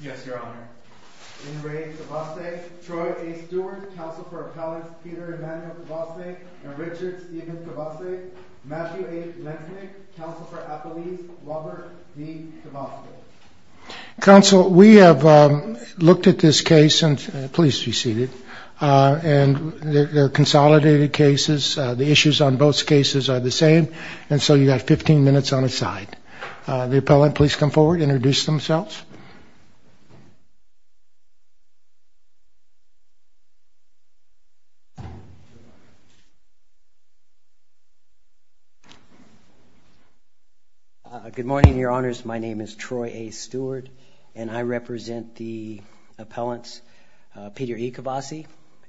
Yes, Your Honor. In re KVASSAY, Troy A. Stewart, Counsel for Appellants Peter Emanuel KVASSAY and Richard Steven KVASSAY, Matthew A. Lentnik, Counsel for Appellees Robert D. KVASSAY Counsel, we have looked at this case and, please be seated, and they're consolidated cases, the issues on both cases are the same, and so you have 15 minutes on the side. The appellant, please come forward, introduce themselves. Good morning, Your Honors. My name is Troy A. Stewart, and I represent the appellants Peter E. KVASSAY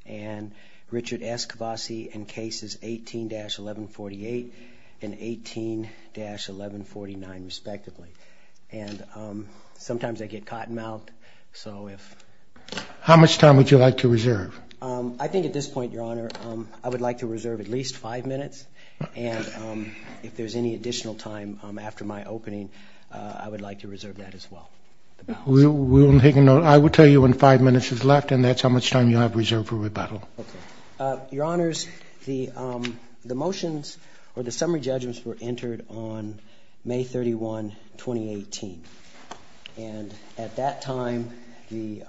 and Richard S. KVASSAY in cases 18-1148 and 18-1149, respectively. And sometimes I get cottonmouthed, so if... How much time would you like to reserve? I think at this point, Your Honor, I would like to reserve at least five minutes, and if there's any additional time after my opening, I would like to reserve that as well. We will take a note. I will tell you when five minutes is left, and that's how much time you have reserved for rebuttal. Your Honors, the motions or the summary judgments were entered on May 31, 2018, and at that time, the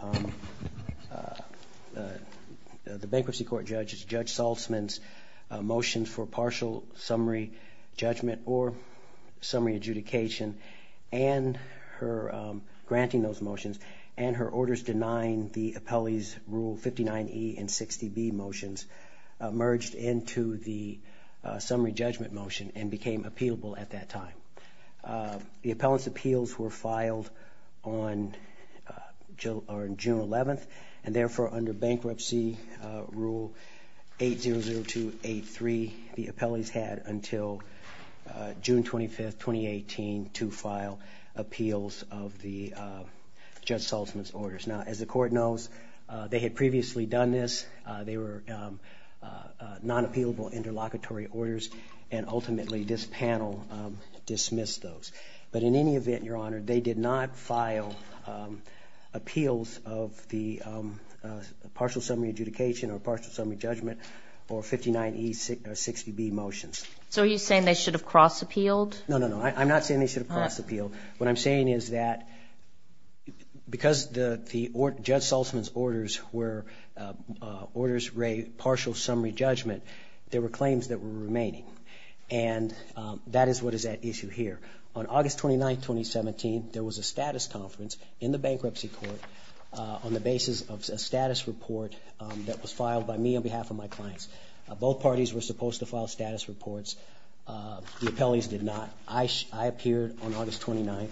bankruptcy court judge, Judge Saltzman's motions for partial summary judgment or summary adjudication and her granting those motions and her orders denying the appellee's Rule 59E and 60B motions merged into the summary judgment motion and became appealable at that time. The appellant's appeals were filed on June 11, and therefore, under Bankruptcy Rule 800283, the appellee's had until June 25, 2018, to file appeals of the Judge Saltzman's orders. Now, as the court knows, they had previously done this. They were non-appealable interlocutory orders, and ultimately, this panel dismissed those. But in any event, Your Honor, they did not file appeals of the partial summary adjudication or partial summary judgment or 59E or 60B motions. So are you saying they should have cross-appealed? No, no, no. I'm not saying they should have cross-appealed. What I'm saying is that because the Judge Saltzman's orders were orders for a partial summary judgment, there were claims that were remaining, and that is what is at issue here. On August 29, 2017, there was a status conference in the bankruptcy court on the basis of a status report that was filed by me on behalf of my clients. Both parties were supposed to file status reports. The appellees did not. I appeared on August 29,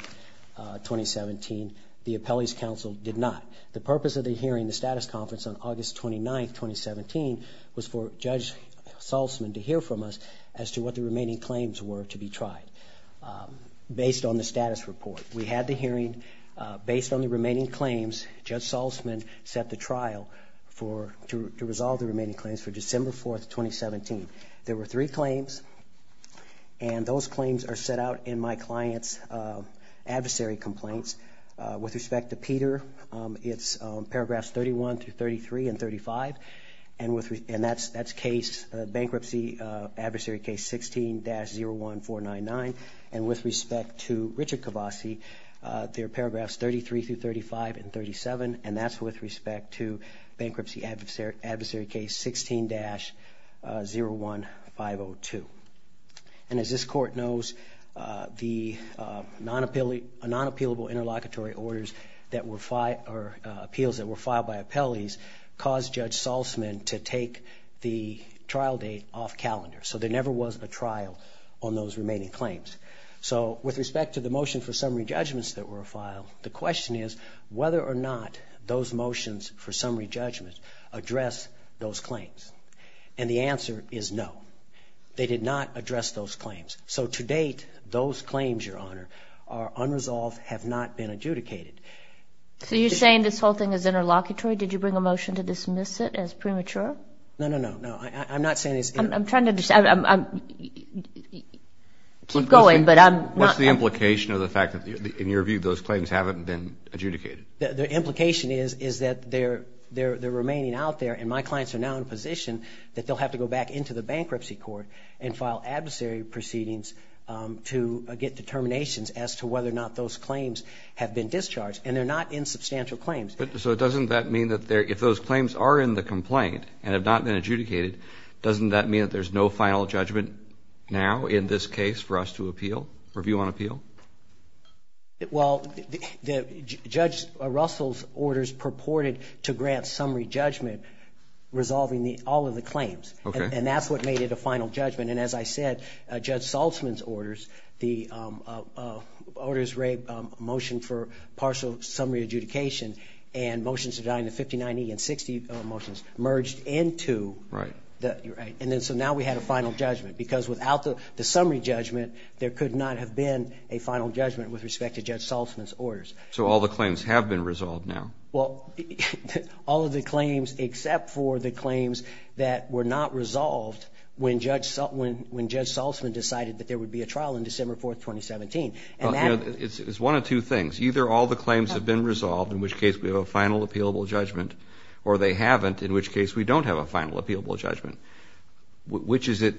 2017. The appellees' counsel did not. The purpose of the hearing, the status conference on August 29, 2017, was for Judge Saltzman to hear from us as to what the remaining claims were to be tried based on the status report. We had the hearing. Based on the remaining claims, Judge Saltzman set the trial to resolve the remaining claims for December 4, 2017. There were three claims, and those claims are set out in my client's adversary complaints. With respect to Peter, it's paragraphs 31 through 33 and 35, and that's bankruptcy adversary case 16-01499. With respect to Richard Cavasi, they're paragraphs 33 through 35 and 37, and that's with respect to bankruptcy adversary case 16-01502. As this court knows, the non-appealable interlocutory appeals that were filed by appellees caused Judge Saltzman to take the trial date off calendar, so there never was a trial on those remaining claims. With respect to the motion for summary judgments that were filed, the question is whether or not those motions for summary judgments address those claims. And the answer is no. They did not address those claims. So to date, those claims, Your Honor, are unresolved, have not been adjudicated. So you're saying this whole thing is interlocutory? Did you bring a motion to dismiss it as premature? No, no, no, no. I'm not saying it's interlocutory. I'm trying to understand. Keep going, but I'm not. What's the implication of the fact that, in your view, those claims haven't been adjudicated? The implication is that they're remaining out there, and my clients are now in a position that they'll have to go back into the bankruptcy court and file adversary proceedings to get determinations as to whether or not those claims have been discharged. And they're not insubstantial claims. So doesn't that mean that if those claims are in the complaint and have not been adjudicated, doesn't that mean that there's no final judgment now in this case for us to appeal, review on appeal? Well, Judge Russell's orders purported to grant summary judgment resolving all of the claims. And that's what made it a final judgment. And as I said, Judge Saltzman's orders, the orders motion for partial summary adjudication and motions to design the 59E and 60 motions merged into the – Right. Right. And then so now we had a final judgment because without the summary judgment, there could not have been a final judgment with respect to Judge Saltzman's orders. So all the claims have been resolved now? Well, all of the claims except for the claims that were not resolved when Judge Saltzman decided that there would be a trial on December 4, 2017. It's one of two things. Either all the claims have been resolved, in which case we have a final appealable judgment, or they haven't, in which case we don't have a final appealable judgment. Which is it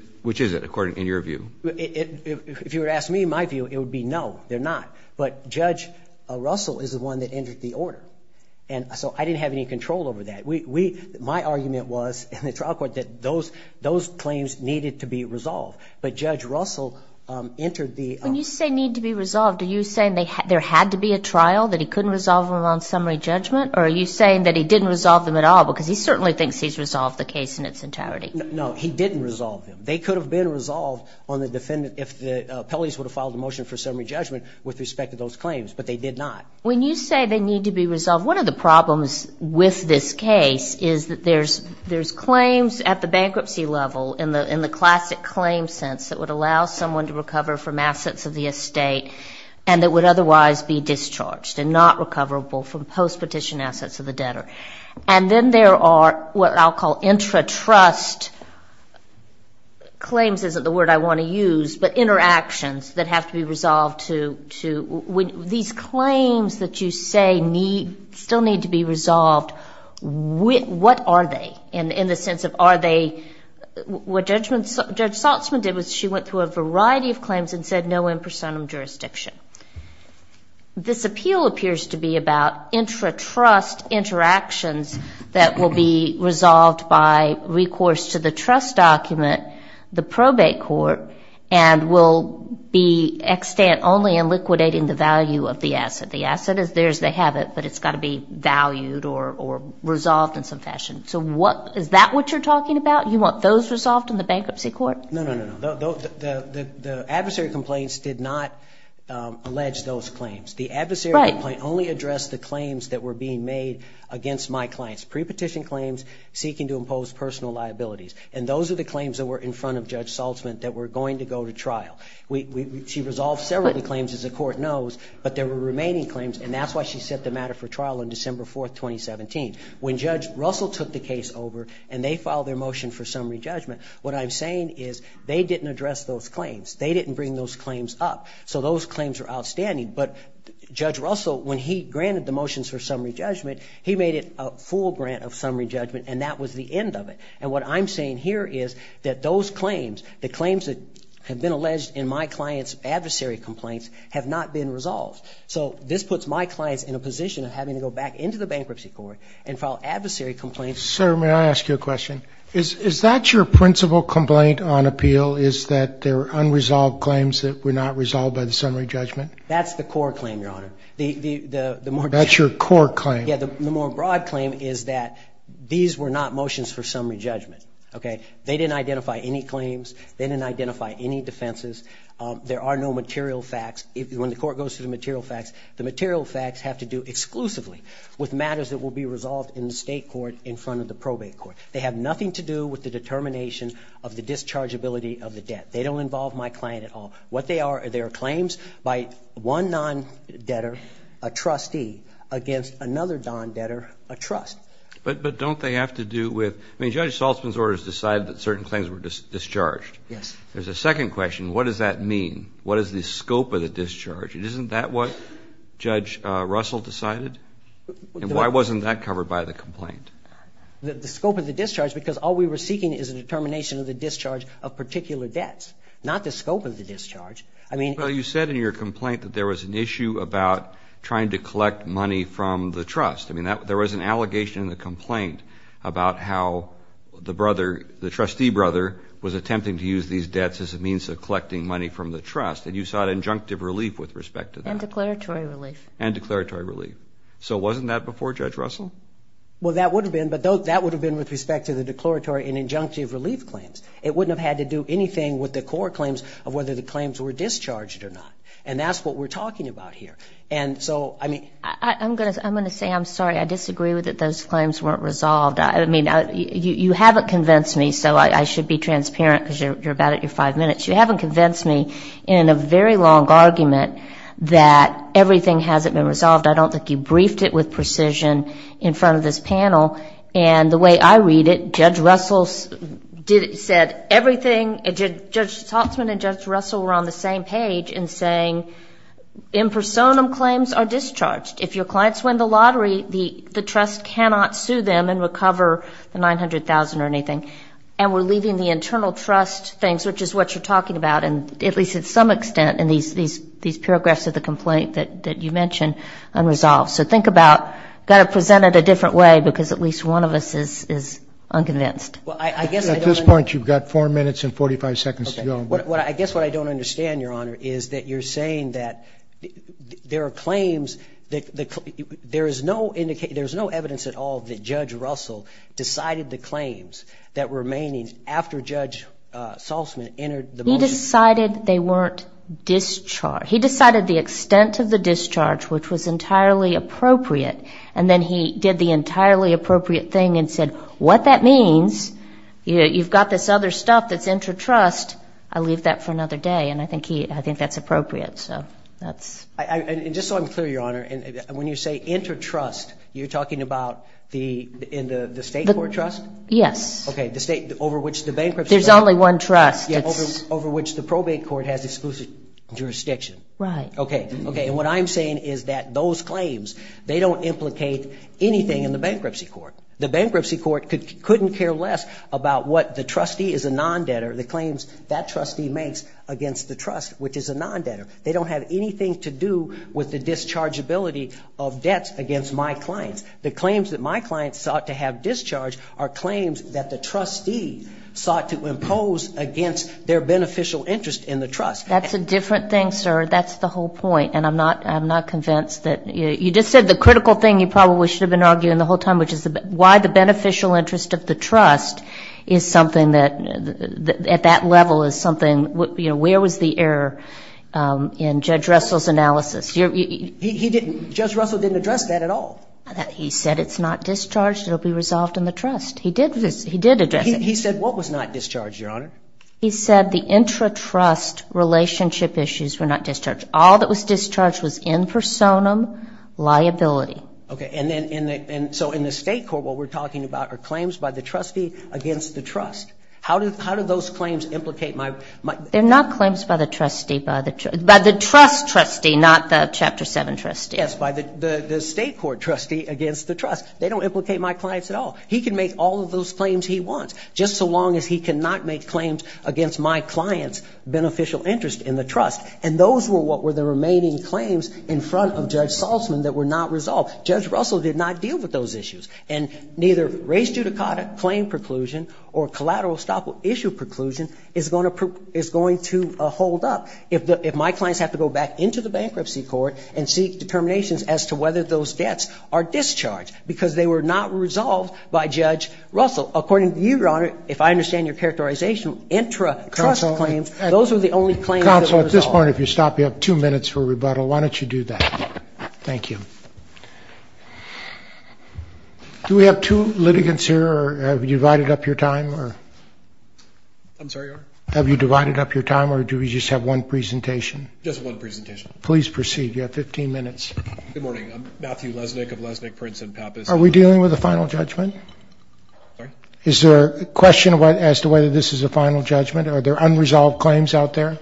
according – in your view? If you were to ask me my view, it would be no, they're not. But Judge Russell is the one that entered the order. And so I didn't have any control over that. My argument was in the trial court that those claims needed to be resolved. But Judge Russell entered the – When you say need to be resolved, are you saying there had to be a trial, that he couldn't resolve them on summary judgment? Or are you saying that he didn't resolve them at all because he certainly thinks he's resolved the case in its entirety? No, he didn't resolve them. They could have been resolved on the defendant if the appellees would have filed a motion for summary judgment with respect to those claims. But they did not. When you say they need to be resolved, one of the problems with this case is that there's claims at the bankruptcy level, in the classic claim sense, that would allow someone to recover from assets of the estate and that would otherwise be discharged and not recoverable from post-petition assets of the debtor. And then there are what I'll call intra-trust claims, isn't the word I want to use, but interactions that have to be resolved to – these claims that you say still need to be resolved, what are they? In the sense of are they – what Judge Saltzman did was she went through a variety of claims and said no in personam jurisdiction. This appeal appears to be about intra-trust interactions that will be resolved by recourse to the trust document, the probate court, and will be extant only in liquidating the value of the asset. The asset is there as they have it, but it's got to be valued or resolved in some fashion. So what – is that what you're talking about? You want those resolved in the bankruptcy court? No, no, no, no. The adversary complaints did not allege those claims. The adversary complaint only addressed the claims that were being made against my clients, pre-petition claims seeking to impose personal liabilities. And those are the claims that were in front of Judge Saltzman that were going to go to trial. She resolved several of the claims, as the court knows, but there were remaining claims, and that's why she set the matter for trial on December 4, 2017. When Judge Russell took the case over and they filed their motion for summary judgment, what I'm saying is they didn't address those claims. They didn't bring those claims up. So those claims are outstanding. But Judge Russell, when he granted the motions for summary judgment, he made it a full grant of summary judgment, and that was the end of it. And what I'm saying here is that those claims, the claims that have been alleged in my clients' adversary complaints, have not been resolved. So this puts my clients in a position of having to go back into the bankruptcy court and file adversary complaints. Sir, may I ask you a question? Is that your principal complaint on appeal, is that they're unresolved claims that were not resolved by the summary judgment? That's the core claim, Your Honor. That's your core claim. Yeah, the more broad claim is that these were not motions for summary judgment. They didn't identify any claims. They didn't identify any defenses. There are no material facts. When the court goes through the material facts, the material facts have to do exclusively with matters that will be resolved in the state court in front of the probate court. They have nothing to do with the determination of the dischargeability of the debt. They don't involve my client at all. What they are, they are claims by one non-debtor, a trustee, against another non-debtor, a trust. But don't they have to do with, I mean, Judge Saltzman's orders decide that certain claims were discharged. Yes. There's a second question. What does that mean? What is the scope of the discharge? Isn't that what Judge Russell decided? And why wasn't that covered by the complaint? The scope of the discharge, because all we were seeking is a determination of the discharge of particular debts, not the scope of the discharge. Well, you said in your complaint that there was an issue about trying to collect money from the trust. I mean, there was an allegation in the complaint about how the brother, was attempting to use these debts as a means of collecting money from the trust. And you sought injunctive relief with respect to that. And declaratory relief. And declaratory relief. So wasn't that before, Judge Russell? Well, that would have been. But that would have been with respect to the declaratory and injunctive relief claims. It wouldn't have had to do anything with the core claims of whether the claims were discharged or not. And that's what we're talking about here. And so, I mean. I'm going to say I'm sorry. I disagree with it. Those claims weren't resolved. I mean, you haven't convinced me. So I should be transparent because you're about at your five minutes. You haven't convinced me in a very long argument that everything hasn't been resolved. I don't think you briefed it with precision in front of this panel. And the way I read it, Judge Russell said everything, Judge Haltzman and Judge Russell were on the same page in saying in personam claims are discharged. If your clients win the lottery, the trust cannot sue them and recover the $900,000 or anything. And we're leaving the internal trust things, which is what you're talking about, at least to some extent in these paragraphs of the complaint that you mentioned, unresolved. So think about got to present it a different way because at least one of us is unconvinced. At this point, you've got four minutes and 45 seconds to go. I guess what I don't understand, Your Honor, is that you're saying that there are claims, there is no evidence at all that Judge Russell decided the claims that were remaining after Judge Haltzman entered the motion. He decided they weren't discharged. He decided the extent of the discharge, which was entirely appropriate, and then he did the entirely appropriate thing and said, what that means, you've got this other stuff that's intertrust, I'll leave that for another day. And I think that's appropriate. And just so I'm clear, Your Honor, when you say intertrust, you're talking about the state court trust? Yes. Okay, the state over which the bankruptcy court. There's only one trust. Yeah, over which the probate court has exclusive jurisdiction. Right. Okay, and what I'm saying is that those claims, they don't implicate anything in the bankruptcy court. The bankruptcy court couldn't care less about what the trustee is a non-debtor, the claims that trustee makes against the trust, which is a non-debtor. They don't have anything to do with the dischargeability of debts against my clients. The claims that my clients sought to have discharged are claims that the trustee sought to impose against their beneficial interest in the trust. That's a different thing, sir. That's the whole point, and I'm not convinced that you just said the critical thing you probably should have been saying the whole time, which is why the beneficial interest of the trust is something that at that level is something, you know, where was the error in Judge Russell's analysis? He didn't. Judge Russell didn't address that at all. He said it's not discharged. It will be resolved in the trust. He did address it. He said what was not discharged, Your Honor? He said the intratrust relationship issues were not discharged. All that was discharged was in personam liability. Okay. And so in the state court what we're talking about are claims by the trustee against the trust. How do those claims implicate my ---- They're not claims by the trustee. By the trust trustee, not the Chapter 7 trustee. Yes, by the state court trustee against the trust. They don't implicate my clients at all. He can make all of those claims he wants, just so long as he cannot make claims against my client's beneficial interest in the trust. And those were what were the remaining claims in front of Judge Saltzman that were not resolved. Judge Russell did not deal with those issues. And neither race judicata claim preclusion or collateral stop issue preclusion is going to hold up if my clients have to go back into the bankruptcy court and seek determinations as to whether those debts are discharged because they were not resolved by Judge Russell. According to you, Your Honor, if I understand your characterization, intratrust claims, those were the only claims that were resolved. Your Honor, if you stop, you have two minutes for rebuttal. Why don't you do that? Thank you. Do we have two litigants here, or have you divided up your time? I'm sorry, Your Honor? Have you divided up your time, or do we just have one presentation? Just one presentation. Please proceed. You have 15 minutes. Good morning. I'm Matthew Lesnick of Lesnick, Prince and Pappas. Are we dealing with a final judgment? Sorry? Is there a question as to whether this is a final judgment? Are there unresolved claims out there?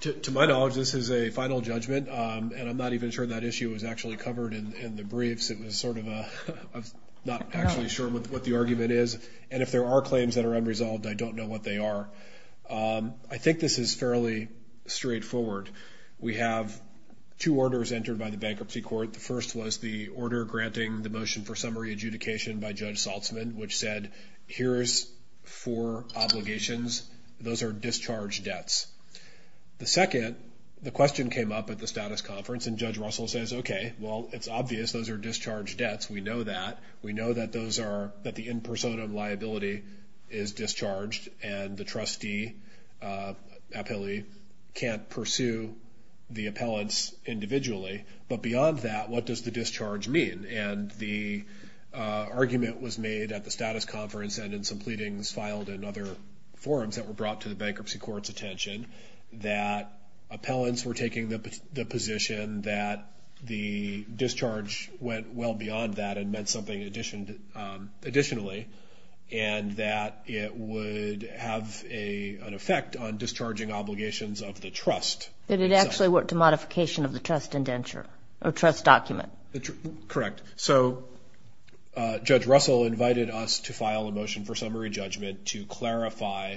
To my knowledge, this is a final judgment, and I'm not even sure that issue was actually covered in the briefs. I'm not actually sure what the argument is, and if there are claims that are unresolved, I don't know what they are. I think this is fairly straightforward. We have two orders entered by the bankruptcy court. The first was the order granting the motion for summary adjudication by Judge The second, the question came up at the status conference, and Judge Russell says, okay, well, it's obvious. Those are discharged debts. We know that. We know that the in personam liability is discharged, and the trustee appellee can't pursue the appellants individually. But beyond that, what does the discharge mean? And the argument was made at the status conference and in some pleadings filed in other forums that were brought to the bankruptcy court's attention that appellants were taking the position that the discharge went well beyond that and meant something additionally, and that it would have an effect on discharging obligations of the trust. Did it actually work to modification of the trust indenture or trust document? Correct. So Judge Russell invited us to file a motion for summary judgment to clarify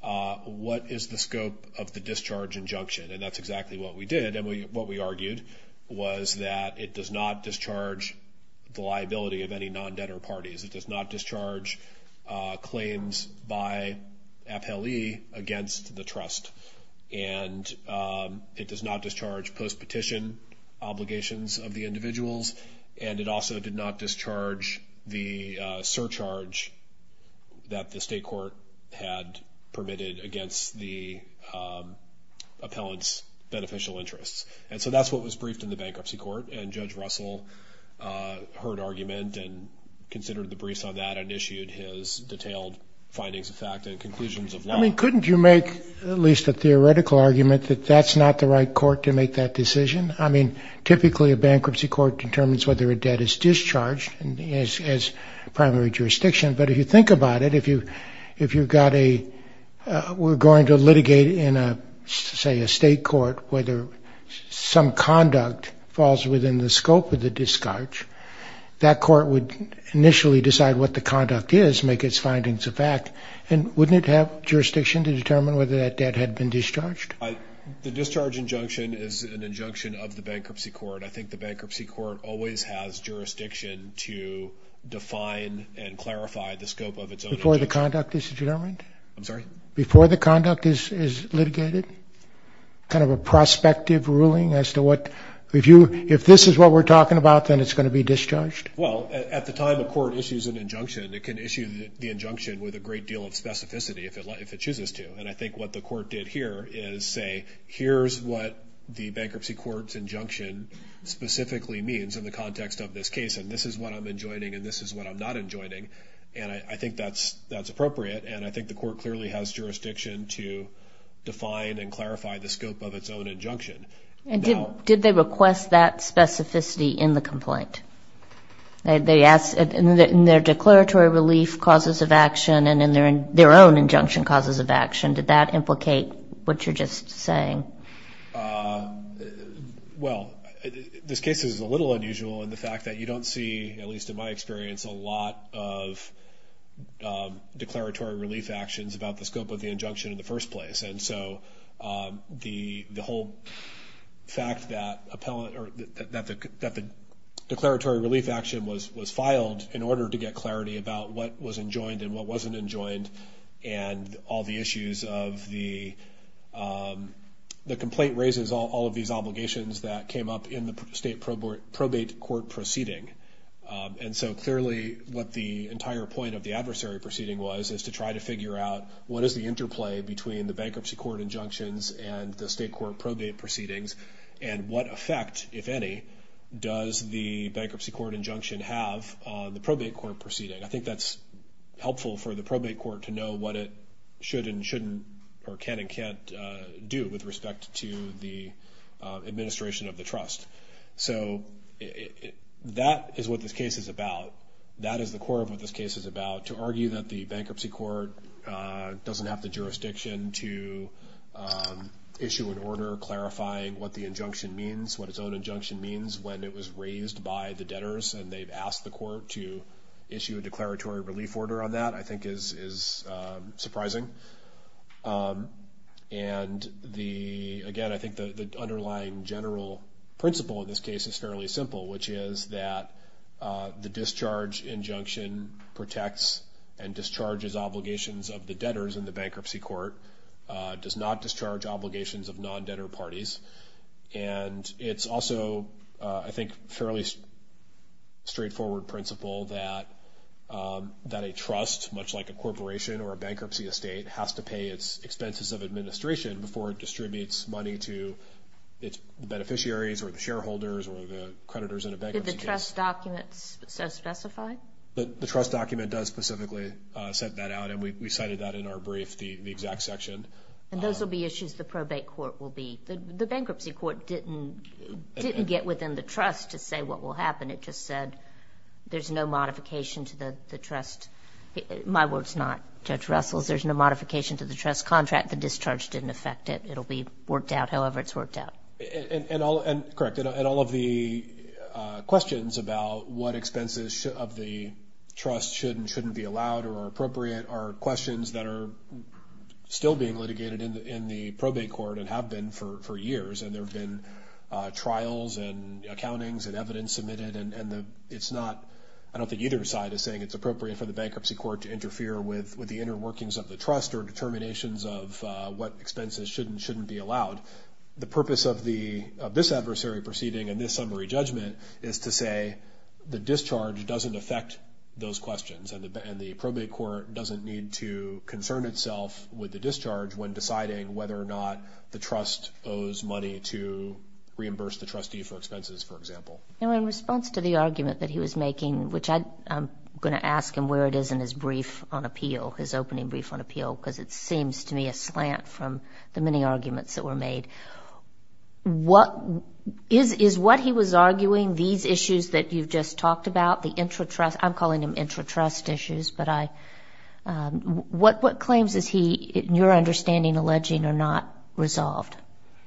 what is the scope of the discharge injunction, and that's exactly what we did. And what we argued was that it does not discharge the liability of any non-debtor parties. It does not discharge claims by appellee against the trust, and it does not discharge the surcharge that the state court had permitted against the appellant's beneficial interests. And so that's what was briefed in the bankruptcy court. And Judge Russell heard argument and considered the briefs on that and issued his detailed findings of fact and conclusions of law. I mean, couldn't you make at least a theoretical argument that that's not the right court to make that decision? I mean, typically a bankruptcy court determines whether a debt is discharged as primary jurisdiction. But if you think about it, if you've got a we're going to litigate in, say, a state court whether some conduct falls within the scope of the discharge, that court would initially decide what the conduct is, make its findings a fact, and wouldn't it have jurisdiction to determine whether that debt had been discharged? The discharge injunction is an injunction of the bankruptcy court. I think the bankruptcy court always has jurisdiction to define and clarify the scope of its own injunction. Before the conduct is determined? I'm sorry? Before the conduct is litigated? Kind of a prospective ruling as to what if this is what we're talking about, then it's going to be discharged? Well, at the time a court issues an injunction, it can issue the injunction with a great deal of specificity if it chooses to. And I think what the court did here is say, here's what the bankruptcy court's injunction specifically means in the context of this case, and this is what I'm enjoining and this is what I'm not enjoining. And I think that's appropriate. And I think the court clearly has jurisdiction to define and clarify the scope of its own injunction. Did they request that specificity in the complaint? In their declaratory relief causes of action and in their own injunction causes of action, did that implicate what you're just saying? Well, this case is a little unusual in the fact that you don't see, at least in my experience, a lot of declaratory relief actions about the scope of the injunction in the first place. And so the whole fact that the declaratory relief action was filed in order to get clarity about what was enjoined and what wasn't enjoined and all the issues of the complaint raises all of these obligations that came up in the state probate court proceeding. And so clearly what the entire point of the adversary proceeding was is to try to figure out what is the interplay between the bankruptcy court injunctions and the state court probate proceedings, and what effect, if any, does the bankruptcy court injunction have on the probate court proceeding. I think that's helpful for the probate court to know what it should and shouldn't or can and can't do with respect to the administration of the trust. So that is what this case is about. That is the core of what this case is about, to argue that the bankruptcy court doesn't have the jurisdiction to issue an order clarifying what the injunction means, what its own injunction means, when it was raised by the debtors and they've asked the court to issue a declaratory relief order on that, I think is surprising. And, again, I think the underlying general principle in this case is fairly simple, which is that the discharge injunction protects and discharges obligations of the debtors in the bankruptcy court, does not discharge obligations of non-debtor parties. And it's also, I think, a fairly straightforward principle that a trust, much like a corporation or a bankruptcy estate, has to pay its expenses of administration before it distributes money to its beneficiaries or the shareholders or the creditors in a bankruptcy case. Did the trust document specify? The trust document does specifically set that out, and we cited that in our brief, the exact section. And those will be issues the probate court will be. The bankruptcy court didn't get within the trust to say what will happen. It just said there's no modification to the trust. My word's not Judge Russell's. There's no modification to the trust contract. The discharge didn't affect it. It'll be worked out however it's worked out. Correct. And all of the questions about what expenses of the trust should and shouldn't be allowed or are appropriate are questions that are still being litigated in the probate court and have been for years. And there have been trials and accountings and evidence submitted. And it's not – I don't think either side is saying it's appropriate for the bankruptcy court to interfere with the inner workings of the trust or determinations of what expenses should and shouldn't be allowed. The purpose of this adversary proceeding and this summary judgment is to say the discharge doesn't affect those questions and the probate court doesn't need to concern itself with the discharge when deciding whether or not the trust owes money to reimburse the trustee for expenses, for example. In response to the argument that he was making, which I'm going to ask him where it is in his brief on appeal, his opening brief on appeal, because it seems to me a slant from the many arguments that were made, what – is what he was arguing these issues that you've just talked about, the intra-trust – I'm calling them intra-trust issues, but I – what claims is he, in your understanding, alleging are not resolved?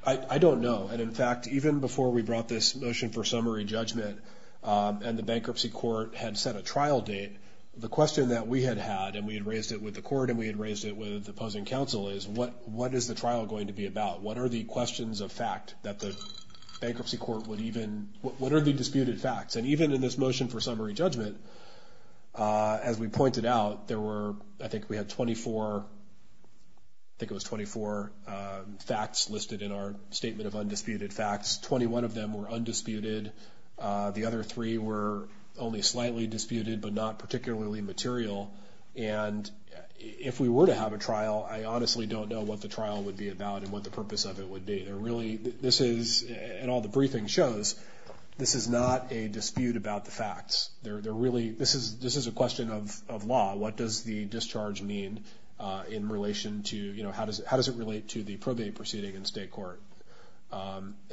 I don't know. And, in fact, even before we brought this motion for summary judgment and the bankruptcy court had set a trial date, the question that we had had, and we had raised it with the court and we had raised it with the opposing counsel, is what is the trial going to be about? What are the questions of fact that the bankruptcy court would even – what are the disputed facts? And even in this motion for summary judgment, as we pointed out, there were – I think we had 24 – I think it was 24 facts listed in our statement of undisputed facts. Twenty-one of them were undisputed. The other three were only slightly disputed but not particularly material. And if we were to have a trial, I honestly don't know what the trial would be about and what the purpose of it would be. There really – this is – and all the briefing shows, this is not a dispute about the facts. There really – this is a question of law. What does the discharge mean in relation to – how does it relate to the probate proceeding in state court?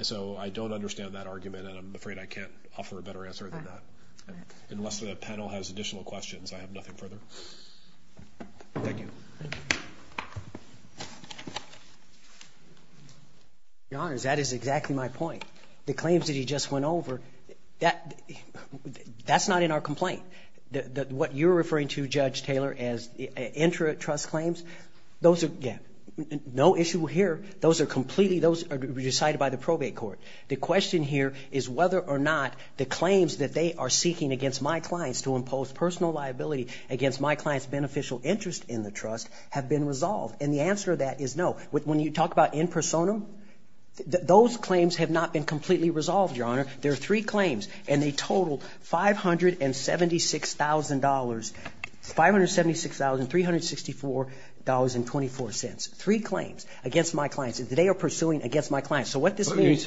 So I don't understand that argument, and I'm afraid I can't offer a better answer than that. Unless the panel has additional questions, I have nothing further. Thank you. Your Honor, that is exactly my point. The claims that he just went over, that's not in our complaint. What you're referring to, Judge Taylor, as intra-trust claims, those are – yeah, no issue here. Those are completely – those are decided by the probate court. The question here is whether or not the claims that they are seeking against my clients to impose personal liability against my client's beneficial interest in the trust have been resolved. And the answer to that is no. When you talk about in personam, those claims have not been completely resolved, Your Honor. There are three claims, and they total $576,000 – $576,364.24. Three claims against my clients. They are pursuing against my clients. So what this means –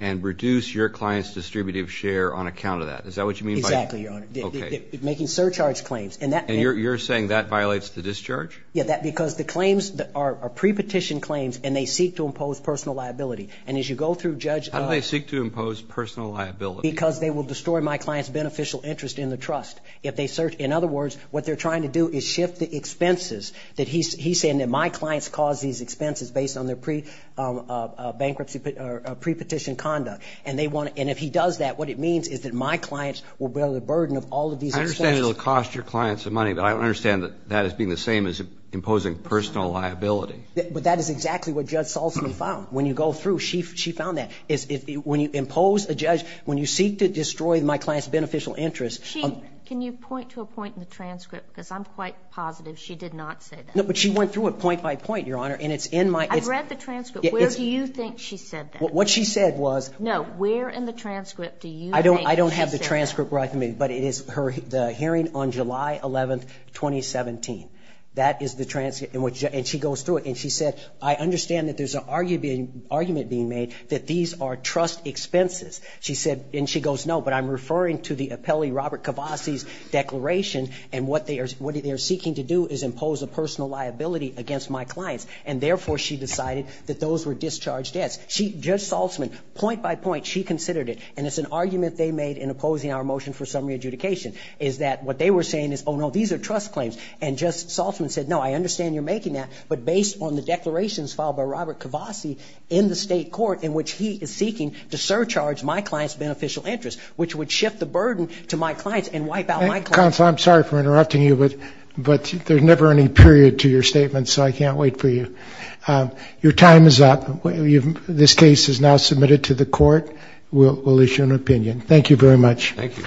and reduce your client's distributive share on account of that. Is that what you mean by – Exactly, Your Honor. Okay. Making surcharge claims. And you're saying that violates the discharge? Yeah, because the claims are pre-petition claims, and they seek to impose personal liability. And as you go through, Judge – How do they seek to impose personal liability? Because they will destroy my client's beneficial interest in the trust. In other words, what they're trying to do is shift the expenses. He's saying that my clients cause these expenses based on their pre-petition conduct. And if he does that, what it means is that my clients will bear the burden of all of these expenses. I understand it will cost your clients money, but I don't understand that as being the same as imposing personal liability. But that is exactly what Judge Salzman found. When you go through, she found that. When you impose a judge – when you seek to destroy my client's beneficial interest – Chief, can you point to a point in the transcript? Because I'm quite positive she did not say that. No, but she went through it point by point, Your Honor. And it's in my – I've read the transcript. Where do you think she said that? What she said was – No, where in the transcript do you think she said that? I don't have the transcript right with me, but it is the hearing on July 11, 2017. That is the transcript. And she goes through it, and she said, I understand that there's an argument being made that these are trust expenses. She said – and she goes, No, but I'm referring to the appellee Robert Cavasi's declaration, and what they are seeking to do is impose a personal liability against my clients. And therefore, she decided that those were discharged debts. Judge Salzman, point by point, she considered it, and it's an argument they made in opposing our motion for summary adjudication, is that what they were saying is, Oh, no, these are trust claims. And Judge Salzman said, No, I understand you're making that, but based on the declarations filed by Robert Cavasi in the state court in which he is seeking to surcharge my client's beneficial interest, which would shift the burden to my clients and wipe out my clients. Counsel, I'm sorry for interrupting you, but there's never any period to your statement, so I can't wait for you. Your time is up. This case is now submitted to the court. We'll issue an opinion. Thank you very much. Thank you.